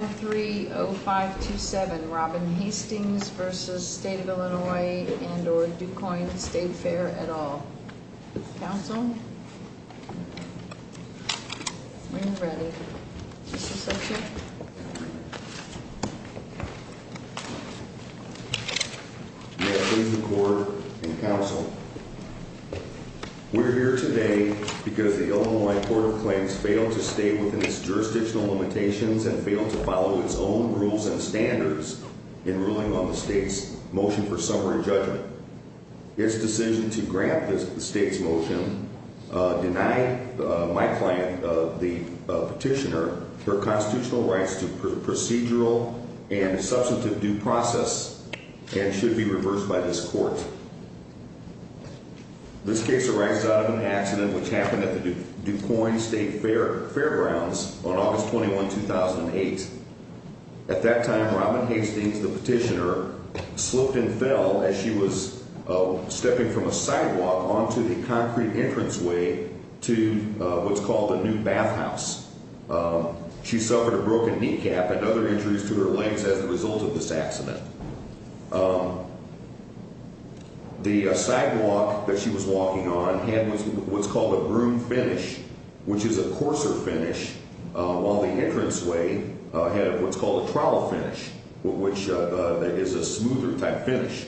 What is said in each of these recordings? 3 0 5 2 7 Robin Hastings v. State of Illinois and or Du Quoin State Fair et al. Council? When you're ready. Mr. Secretary? May I please record in Council. We're here today because the Illinois Court of Claims failed to stay within its jurisdictional limitations and failed to follow its own rules and standards in ruling on the state's motion for summary judgment. Its decision to grant the state's motion denied my client, the petitioner, her constitutional rights to procedural and substantive due process and should be reversed by this court. This case arises out of an accident which happened at the Du Quoin State Fairgrounds on August 21, 2008. At that time, Robin Hastings, the petitioner, slipped and fell as she was stepping from a sidewalk onto the concrete entranceway to what's called the new bathhouse. She suffered a broken kneecap and other injuries to her legs as a result of this accident. The sidewalk that she was walking on had what's called a broom finish, which is a coarser finish, while the entranceway had what's called a trowel finish, which is a smoother type finish.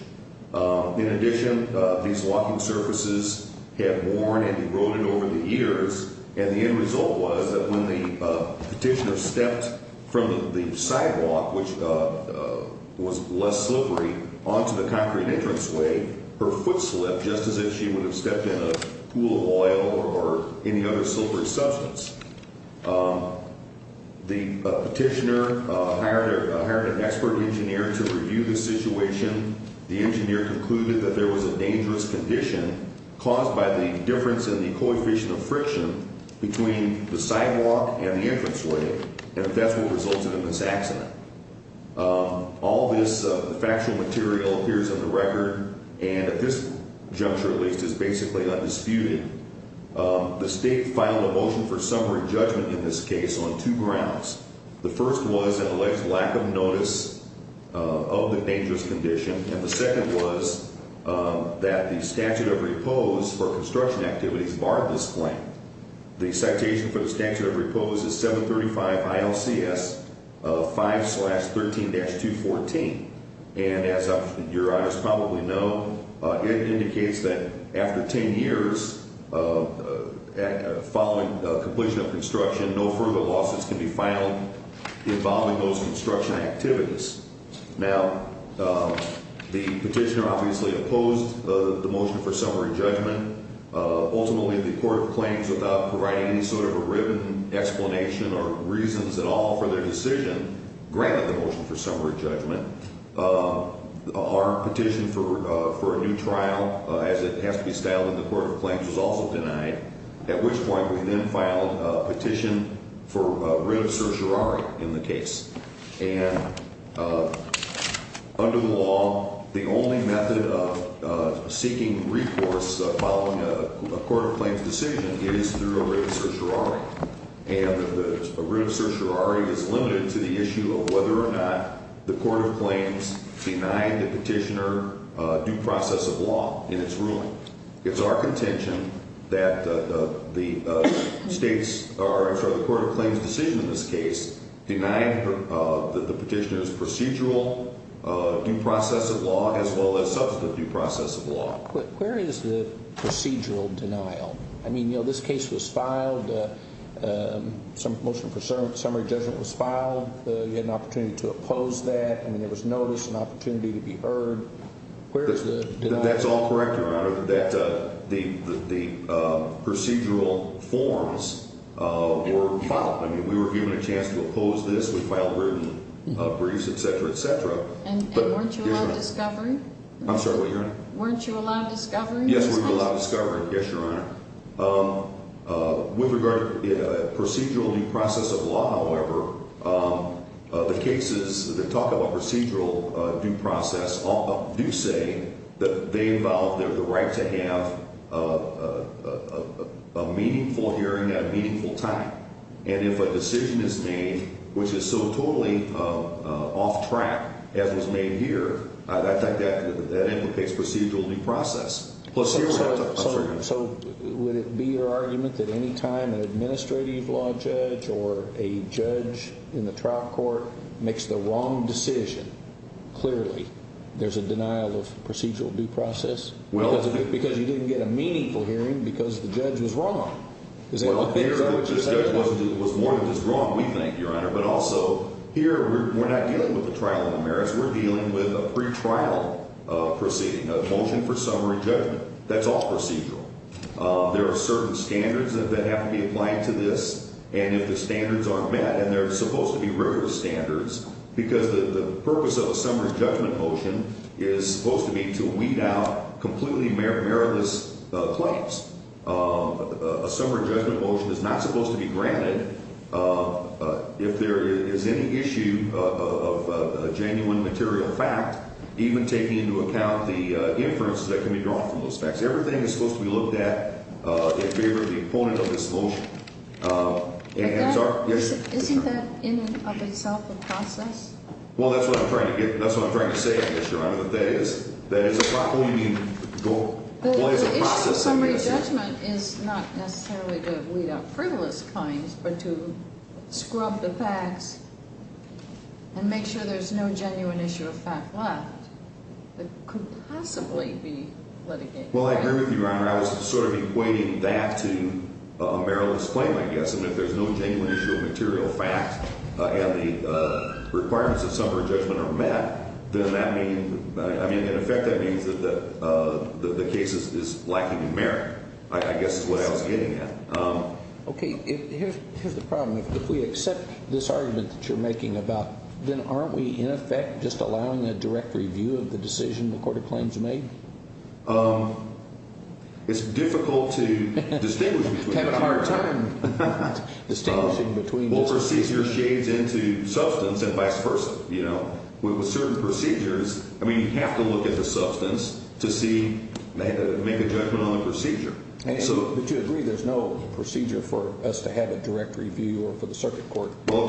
In addition, these walking surfaces had worn and eroded over the years, and the end result was that when the petitioner stepped from the sidewalk, which was less slippery, onto the concrete entranceway, her foot slipped just as if she would have stepped in a pool of oil or any other slippery substance. The petitioner hired an expert engineer to review the situation. The engineer concluded that there was a dangerous condition caused by the difference in the coefficient of friction between the sidewalk and the entranceway, and that's what resulted in this accident. All this factual material appears on the record, and at this juncture, at least, is basically undisputed. The state filed a motion for summary judgment in this case on two grounds. The first was an alleged lack of notice of the dangerous condition, and the second was that the statute of repose for construction activities barred this claim. The citation for the statute of repose is 735 ILCS 5-13-214, and as your honors probably know, it indicates that after 10 years following completion of construction, no further lawsuits can be filed involving those construction activities. Now, the petitioner obviously opposed the motion for summary judgment. Ultimately, the Court of Claims, without providing any sort of a written explanation or reasons at all for their decision, granted the motion for summary judgment. Our petition for a new trial, as it has to be styled in the Court of Claims, was also denied, at which point we then filed a petition for writ of certiorari in the case. And under the law, the only method of seeking recourse following a Court of Claims decision is through a writ of certiorari. And a writ of certiorari is limited to the issue of whether or not the Court of Claims denied the petitioner due process of law in its ruling. So it's our contention that the states, or I'm sorry, the Court of Claims' decision in this case denied the petitioner's procedural due process of law as well as substantive due process of law. Where is the procedural denial? I mean, you know, this case was filed, motion for summary judgment was filed. You had an opportunity to oppose that. I mean, there was notice, an opportunity to be heard. Where is the denial? That's all correct, Your Honor, that the procedural forms were filed. I mean, we were given a chance to oppose this. We filed written briefs, et cetera, et cetera. And weren't you allowed discovery? I'm sorry, what, Your Honor? Weren't you allowed discovery? Yes, we were allowed discovery, yes, Your Honor. With regard to procedural due process of law, however, the cases that talk about procedural due process do say that they involve the right to have a meaningful hearing at a meaningful time. And if a decision is made which is so totally off track as was made here, I think that implicates procedural due process. So would it be your argument that any time an administrative law judge or a judge in the trial court makes the wrong decision, clearly there's a denial of procedural due process? Because you didn't get a meaningful hearing because the judge was wrong. Is that what you're saying? The judge was wrong, we think, Your Honor. But also, here we're not dealing with a trial in the merits. We're dealing with a pretrial proceeding, a motion for summary judgment. That's all procedural. There are certain standards that have to be applied to this. And if the standards aren't met, and they're supposed to be rigorous standards, because the purpose of a summary judgment motion is supposed to be to weed out completely meritless claims. A summary judgment motion is not supposed to be granted if there is any issue of a genuine material fact, even taking into account the inferences that can be drawn from those facts. Everything is supposed to be looked at in favor of the opponent of this motion. Isn't that in and of itself a process? Well, that's what I'm trying to say, Mr. Reiner. That is a process. The issue of summary judgment is not necessarily to weed out frivolous claims, but to scrub the facts and make sure there's no genuine issue of fact left that could possibly be litigated. Well, I agree with you, Your Honor. I was sort of equating that to a meritless claim, I guess. And if there's no genuine issue of material fact and the requirements of summary judgment are met, then that means – in effect, that means that the case is lacking in merit, I guess is what I was getting at. Okay. Here's the problem. If we accept this argument that you're making about, then aren't we, in effect, just allowing a direct review of the decision the court of claims made? It's difficult to distinguish between the two. Having a hard time distinguishing between the two. Well, procedure shades into substance and vice versa. With certain procedures, I mean, you have to look at the substance to see – make a judgment on the procedure. But you agree there's no procedure for us to have a direct review or for the circuit court? Well,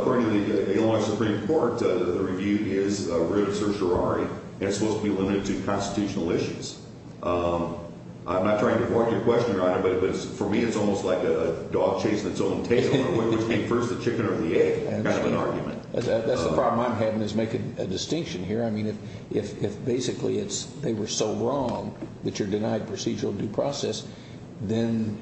according to the Illinois Supreme Court, the review is a writ of certiorari, and it's supposed to be limited to constitutional issues. I'm not trying to fork your question, Your Honor, but for me it's almost like a dog chasing its own tail or which came first, the chicken or the egg kind of an argument. That's the problem I'm having is making a distinction here. I mean, if basically they were so wrong that you're denied procedural due process, then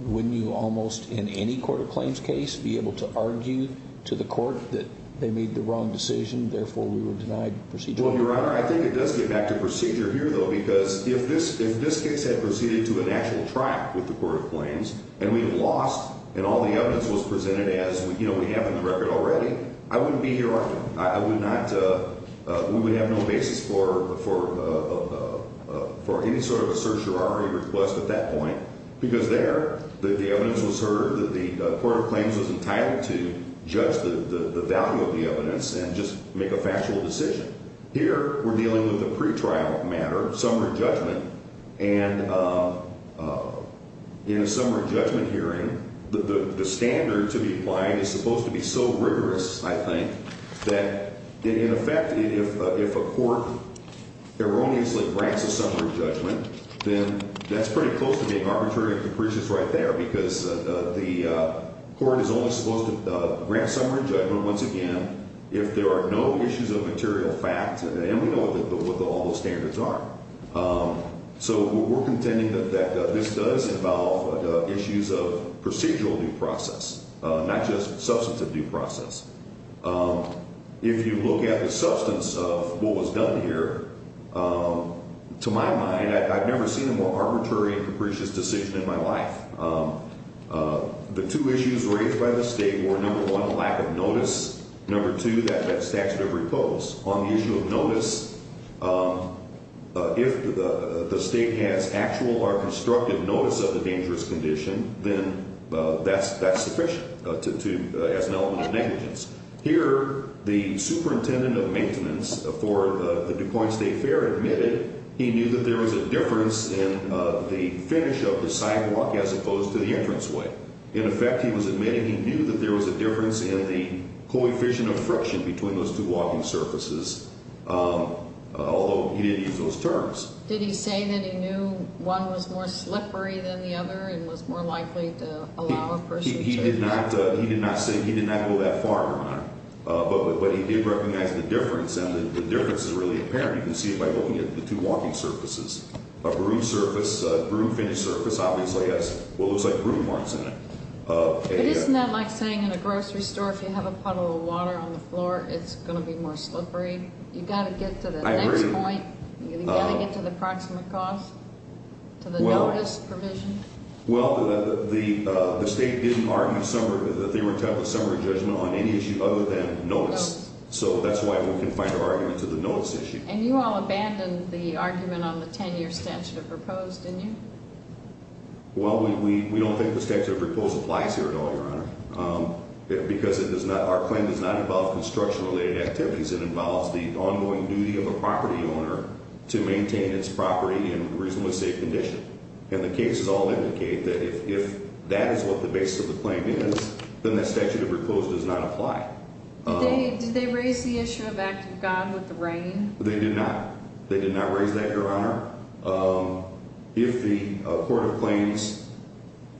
wouldn't you almost in any court of claims case be able to argue to the court that they made the wrong decision, therefore we were denied procedural? Well, Your Honor, I think it does get back to procedure here, though, because if this case had proceeded to an actual trial with the court of claims and we lost and all the evidence was presented as we have in the record already, I wouldn't be here often. I would not – we would have no basis for any sort of a certiorari request at that point because there the evidence was heard that the court of claims was entitled to judge the value of the evidence and just make a factual decision. Here we're dealing with a pretrial matter, summary judgment, and in a summary judgment hearing, the standard to be applied is supposed to be so rigorous, I think, that in effect if a court erroneously grants a summary judgment, then that's pretty close to being arbitrary and capricious right there because the court is only supposed to grant summary judgment, once again, if there are no issues of material fact and we know what all those standards are. So we're contending that this does involve issues of procedural due process, not just substantive due process. If you look at the substance of what was done here, to my mind, I've never seen a more arbitrary and capricious decision in my life. The two issues raised by the State were, number one, lack of notice, number two, that statute of repose. On the issue of notice, if the State has actual or constructive notice of the dangerous condition, then that's sufficient as an element of negligence. Here, the superintendent of maintenance for the DuPoint State Fair admitted he knew that there was a difference in the finish of the sidewalk as opposed to the entranceway. In effect, he was admitting he knew that there was a difference in the coefficient of friction between those two walking surfaces, although he didn't use those terms. Did he say that he knew one was more slippery than the other and was more likely to allow a person to... He did not say, he did not go that far, Your Honor, but he did recognize the difference and the difference is really apparent. You can see it by looking at the two walking surfaces. A groomed surface, a groomed finish surface obviously has what looks like groom marks in it. But isn't that like saying in a grocery store, if you have a puddle of water on the floor, it's going to be more slippery? You've got to get to the next point. I agree. You've got to get to the approximate cost, to the notice provision. Well, the state didn't argue that they were entitled to summary judgment on any issue other than notice. So that's why we can find an argument to the notice issue. And you all abandoned the argument on the 10-year statute of repose, didn't you? Well, we don't think the statute of repose applies here at all, Your Honor, because our claim does not involve construction-related activities. It involves the ongoing duty of a property owner to maintain its property in reasonably safe condition. And the cases all indicate that if that is what the basis of the claim is, then that statute of repose does not apply. Did they raise the issue of act of God with the rain? They did not. They did not raise that, Your Honor. If the court of claims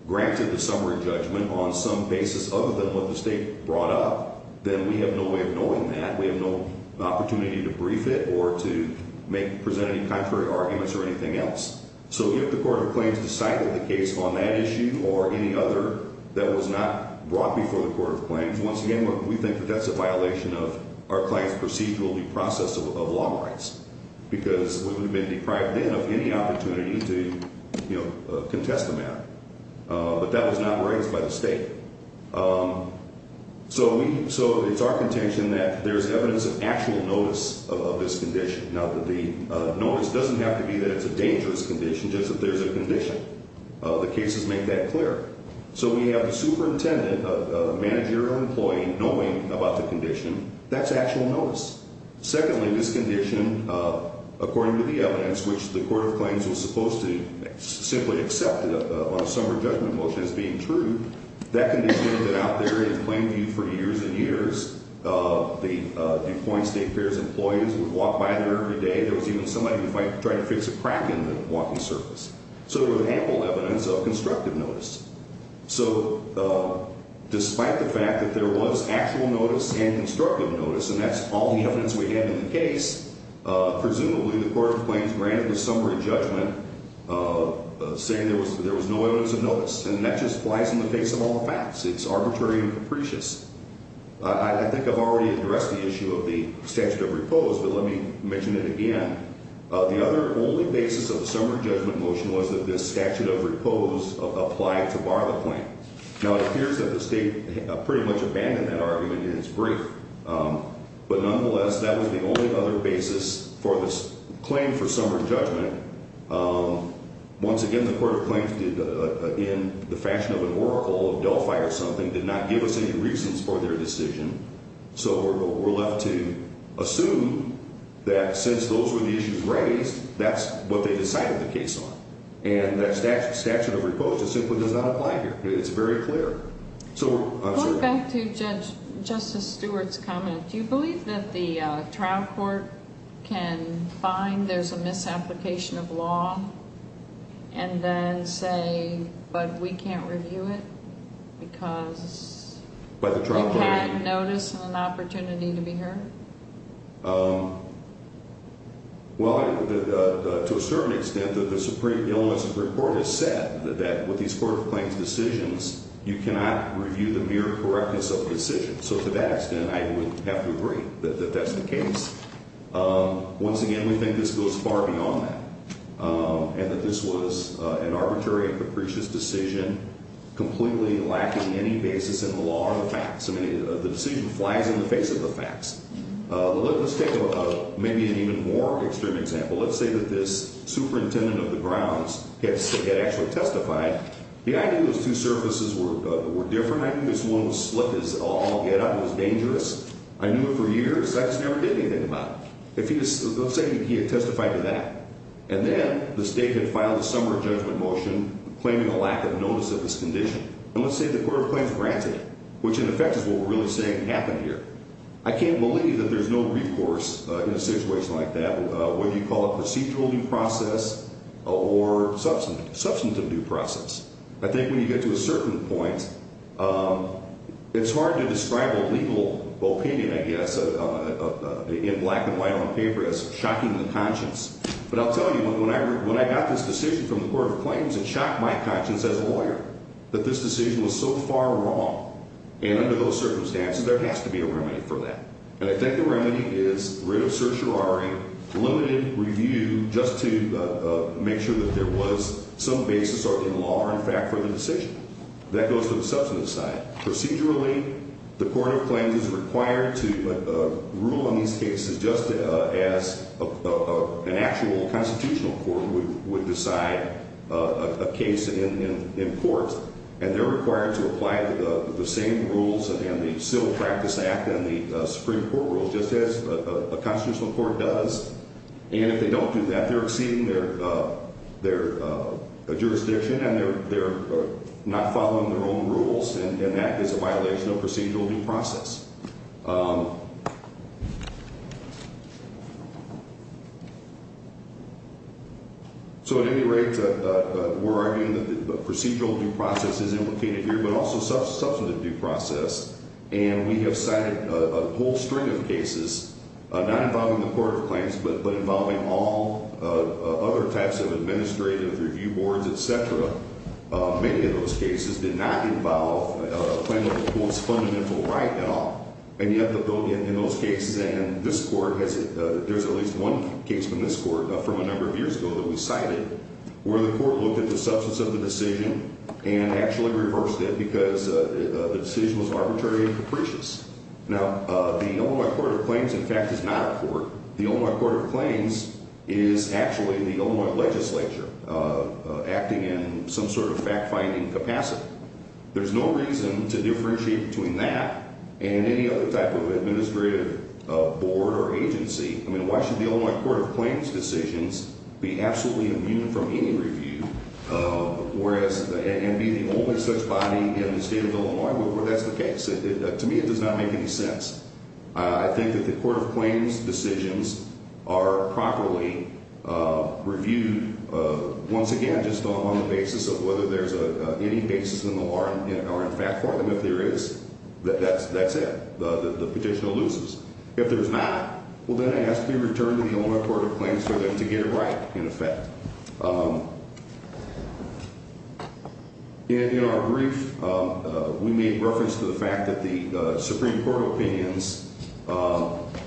granted the summary judgment on some basis other than what the state brought up, then we have no way of knowing that. We have no opportunity to brief it or to present any contrary arguments or anything else. So if the court of claims decided the case on that issue or any other that was not brought before the court of claims, once again, we think that that's a violation of our client's procedural due process of law rights, because we would have been deprived then of any opportunity to, you know, contest the matter. But that was not raised by the state. So it's our contention that there's evidence of actual notice of this condition. Now, the notice doesn't have to be that it's a dangerous condition, just that there's a condition. The cases make that clear. So we have a superintendent, a manager or employee, knowing about the condition. That's actual notice. Secondly, this condition, according to the evidence, which the court of claims was supposed to simply accept on a summary judgment motion as being true, that condition was out there in claim view for years and years. The Deploying State Fair's employees would walk by there every day. There was even somebody who tried to fix a crack in the walking surface. So there was ample evidence of constructive notice. So despite the fact that there was actual notice and constructive notice, and that's all the evidence we had in the case, presumably the court of claims granted the summary judgment saying there was no evidence of notice. And that just flies in the face of all the facts. It's arbitrary and capricious. I think I've already addressed the issue of the statute of repose, but let me mention it again. The other only basis of the summary judgment motion was that this statute of repose applied to bar the claim. Now, it appears that the state pretty much abandoned that argument in its brief. But nonetheless, that was the only other basis for this claim for summary judgment. Once again, the court of claims did, in the fashion of an oracle of Delphi or something, did not give us any reasons for their decision. So we're left to assume that since those were the issues raised, that's what they decided the case on. And that statute of repose just simply does not apply here. It's very clear. Going back to Justice Stewart's comment, do you believe that the trial court can find there's a misapplication of law and then say, but we can't review it because they can't notice an opportunity to be heard? Well, to a certain extent, the Supreme Illness Report has said that with these court of claims decisions, you cannot review the mere correctness of the decision. So to that extent, I would have to agree that that's the case. Once again, we think this goes far beyond that and that this was an arbitrary and capricious decision completely lacking any basis in the law or the facts. I mean, the decision flies in the face of the facts. Let's take maybe an even more extreme example. Let's say that this superintendent of the grounds had actually testified. The idea was two surfaces were different. I knew this one was slick as all get-up. It was dangerous. I knew it for years. I just never did anything about it. Let's say he had testified to that. And then the state had filed a summary judgment motion claiming a lack of notice of this condition. And let's say the court of claims granted it, which in effect is what we're really saying happened here. I can't believe that there's no recourse in a situation like that, whether you call it procedural due process or substantive due process. I think when you get to a certain point, it's hard to describe a legal opinion, I guess, in black and white on paper as shocking the conscience. But I'll tell you, when I got this decision from the court of claims, it shocked my conscience as a lawyer that this decision was so far wrong. And under those circumstances, there has to be a remedy for that. And I think the remedy is writ of certiorari, limited review just to make sure that there was some basis in law or in fact for the decision. That goes to the substantive side. Procedurally, the court of claims is required to rule on these cases just as an actual constitutional court would decide a case in court. And they're required to apply the same rules and the Civil Practice Act and the Supreme Court rules just as a constitutional court does. And if they don't do that, they're exceeding their jurisdiction and they're not following their own rules, and that is a violation of procedural due process. So at any rate, we're arguing that the procedural due process is implicated here, but also substantive due process. And we have cited a whole string of cases, not involving the court of claims, but involving all other types of administrative review boards, et cetera. Many of those cases did not involve claiming the court's fundamental right at all. And yet, in those cases and this court, there's at least one case from this court from a number of years ago that we cited where the court looked at the substance of the decision and actually reversed it because the decision was arbitrary and capricious. Now, the Illinois court of claims, in fact, is not a court. The Illinois court of claims is actually the Illinois legislature acting in some sort of fact-finding capacity. There's no reason to differentiate between that and any other type of administrative board or agency. I mean, why should the Illinois court of claims decisions be absolutely immune from any review and be the only such body in the state of Illinois where that's the case? To me, it does not make any sense. I think that the court of claims decisions are properly reviewed, once again, just on the basis of whether there's any basis in the law or in fact for them. If there is, that's it. The petitioner loses. If there's not, well, then it has to be returned to the Illinois court of claims for them to get it right, in effect. In our brief, we made reference to the fact that the Supreme Court opinions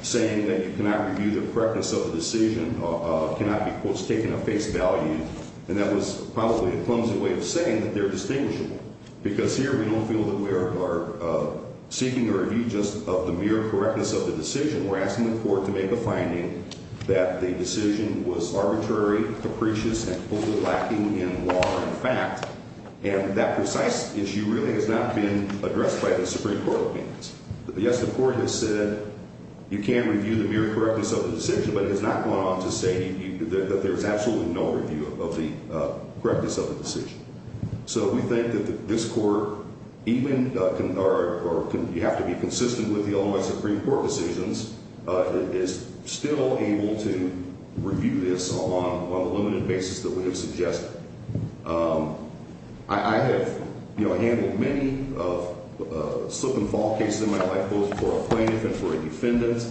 saying that you cannot review the correctness of the decision cannot be, quote, taken at face value. And that was probably a clumsy way of saying that they're distinguishable because here we don't feel that we are seeking a review just of the mere correctness of the decision. We're asking the court to make a finding that the decision was arbitrary, capricious, and fully lacking in law and fact, and that precise issue really has not been addressed by the Supreme Court opinions. Yes, the court has said you can review the mere correctness of the decision, but it has not gone on to say that there's absolutely no review of the correctness of the decision. So we think that this court, even, or you have to be consistent with the Illinois Supreme Court decisions, is still able to review this on the limited basis that we have suggested. I have, you know, handled many slip and fall cases in my life, both for a plaintiff and for a defendant.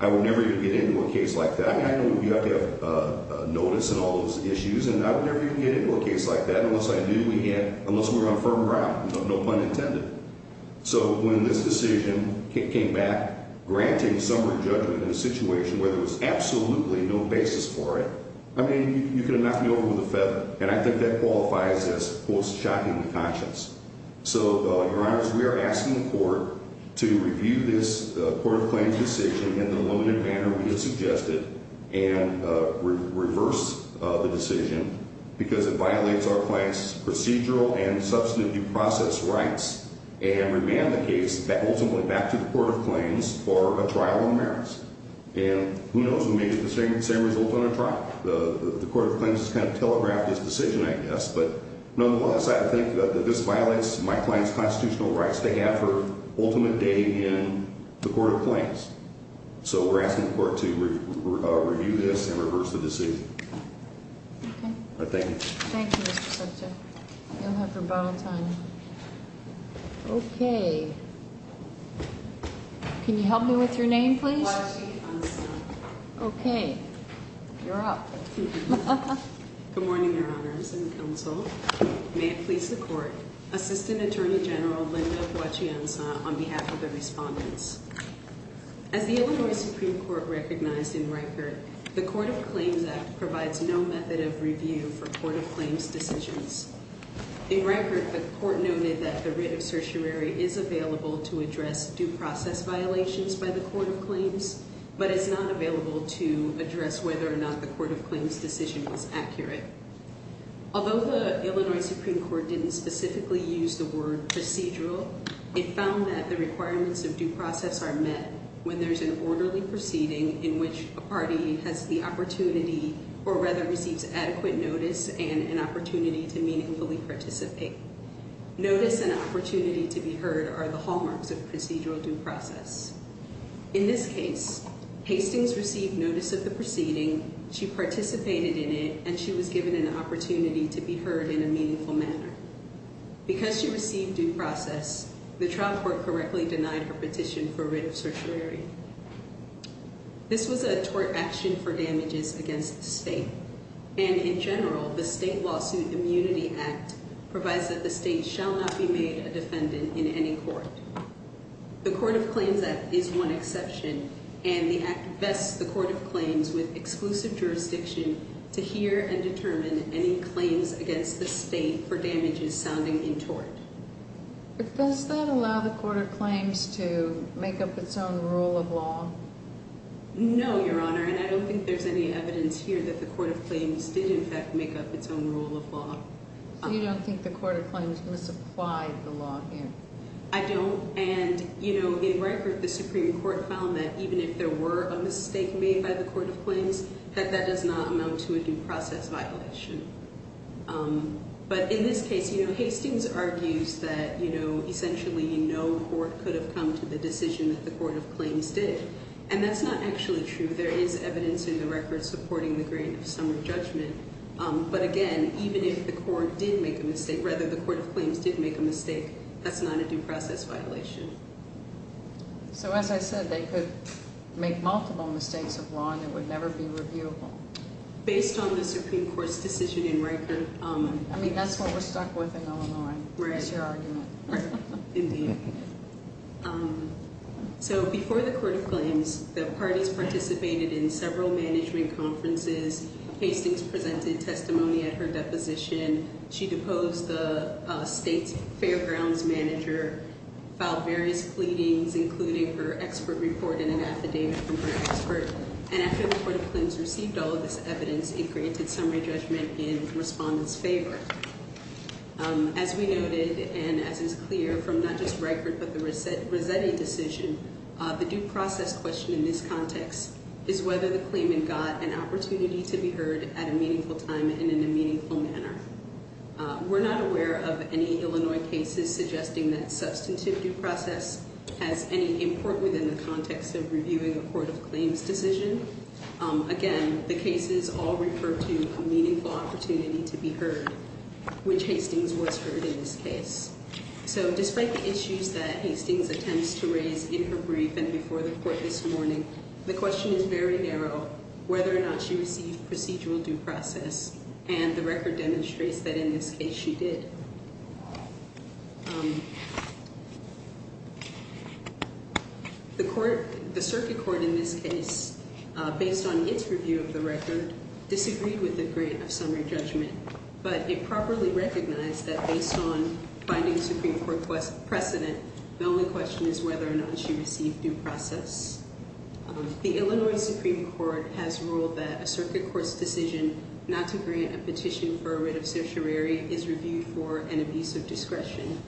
I would never even get into a case like that. I mean, I know you have to have notice and all those issues, and I would never even get into a case like that unless I knew we had – unless we were on firm ground, no pun intended. So when this decision came back, granting summary judgment in a situation where there was absolutely no basis for it, I mean, you could have knocked me over with a feather, and I think that qualifies as, quote, shocking to conscience. So, Your Honors, we are asking the court to review this court of claims decision in the limited manner we have suggested and reverse the decision because it violates our client's procedural and substantive due process rights and remand the case ultimately back to the court of claims for a trial on merits. And who knows, we may get the same result on a trial. The court of claims has kind of telegraphed this decision, I guess. But nonetheless, I think that this violates my client's constitutional rights to have her ultimate day in the court of claims. So we're asking the court to review this and reverse the decision. Okay. Thank you. Thank you, Mr. Subject. You'll have rebuttal time. Okay. Can you help me with your name, please? Okay. You're up. Good morning, Your Honors and counsel. May it please the court. Assistant Attorney General Linda Huachianza on behalf of the respondents. As the Illinois Supreme Court recognized in record, the Court of Claims Act provides no method of review for court of claims decisions. In record, the court noted that the writ of certiorari is available to address due process violations by the court of claims, but it's not available to address whether or not the court of claims decision is accurate. Although the Illinois Supreme Court didn't specifically use the word procedural, it found that the requirements of due process are met when there's an orderly proceeding in which a party has the opportunity or rather receives adequate notice and an opportunity to meaningfully participate. Notice and opportunity to be heard are the hallmarks of procedural due process. In this case, Hastings received notice of the proceeding, she participated in it, and she was given an opportunity to be heard in a meaningful manner. Because she received due process, the trial court correctly denied her petition for writ of certiorari. This was a tort action for damages against the state, and in general, the state lawsuit immunity act provides that the state shall not be made a defendant in any court. The Court of Claims Act is one exception, and the act vests the court of claims with exclusive jurisdiction to hear and determine any claims against the state for damages sounding in tort. But does that allow the court of claims to make up its own rule of law? No, Your Honor, and I don't think there's any evidence here that the court of claims did in fact make up its own rule of law. So you don't think the court of claims misapplied the law here? I don't, and in record, the Supreme Court found that even if there were a mistake made by the court of claims, that that does not amount to a due process violation. But in this case, Hastings argues that essentially no court could have come to the decision that the court of claims did. And that's not actually true, there is evidence in the record supporting the grain of some judgment. But again, even if the court did make a mistake, rather the court of claims did make a mistake, that's not a due process violation. So as I said, they could make multiple mistakes of law and it would never be reviewable. Based on the Supreme Court's decision in record. I mean, that's what we're stuck with in Illinois, is your argument. Indeed. So before the court of claims, the parties participated in several management conferences. Hastings presented testimony at her deposition. She deposed the state's fairgrounds manager, filed various pleadings, including her expert report and an affidavit from her expert. And after the court of claims received all of this evidence, it granted summary judgment in respondents' favor. As we noted, and as is clear from not just Reichert, but the Rossetti decision, the due process question in this context is whether the claimant got an opportunity to be heard at a meaningful time and in a meaningful manner. We're not aware of any Illinois cases suggesting that substantive due process has any import within the context of reviewing a court of claims decision. Again, the cases all refer to a meaningful opportunity to be heard, which Hastings was heard in this case. So despite the issues that Hastings attempts to raise in her brief and before the court this morning, the question is very narrow whether or not she received procedural due process. And the record demonstrates that in this case she did. The court, the circuit court in this case, based on its review of the record, disagreed with the grant of summary judgment. But it properly recognized that based on finding a Supreme Court precedent, the only question is whether or not she received due process. The Illinois Supreme Court has ruled that a circuit court's decision not to grant a petition for a writ of certiorari is reviewed for an abuse of discretion.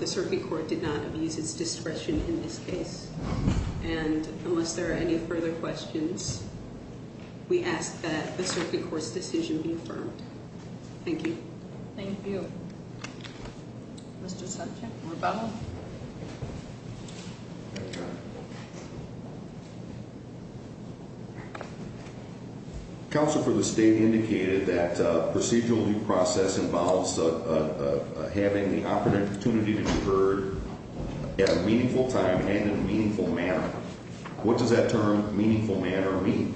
The circuit court did not abuse its discretion in this case. And unless there are any further questions, we ask that the circuit court's decision be affirmed. Thank you. Thank you. Mr. Sanchez. Counsel for the state indicated that procedural due process involves having the opportunity to be heard at a meaningful time and in a meaningful manner. What does that term meaningful manner mean?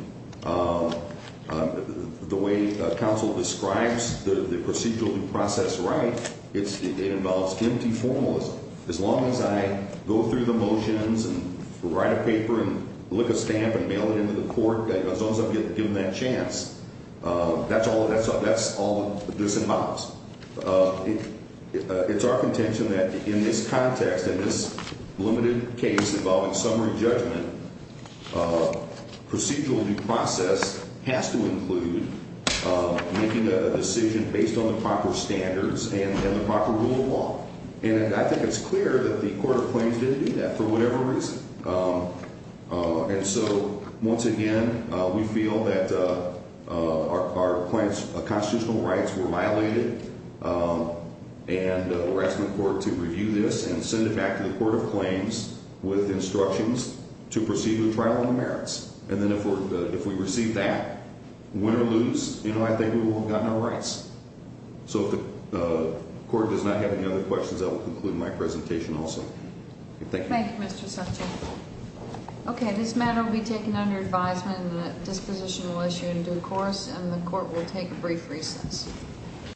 The way counsel describes the procedural due process right, it involves empty formalism. As long as I go through the motions and write a paper and lick a stamp and mail it into the court, as long as I'm given that chance, that's all this involves. It's our contention that in this context, in this limited case involving summary judgment, procedural due process has to include making a decision based on the proper standards and the proper rule of law. And I think it's clear that the court of claims didn't do that for whatever reason. And so once again, we feel that our constitutional rights were violated. And we're asking the court to review this and send it back to the court of claims with instructions to proceed with trial on the merits. And then if we receive that, win or lose, I think we will have gotten our rights. So if the court does not have any other questions, I will conclude my presentation also. Thank you. Thank you, Mr. Sutton. Okay, this matter will be taken under advisement and the disposition will issue in due course and the court will take a brief recess.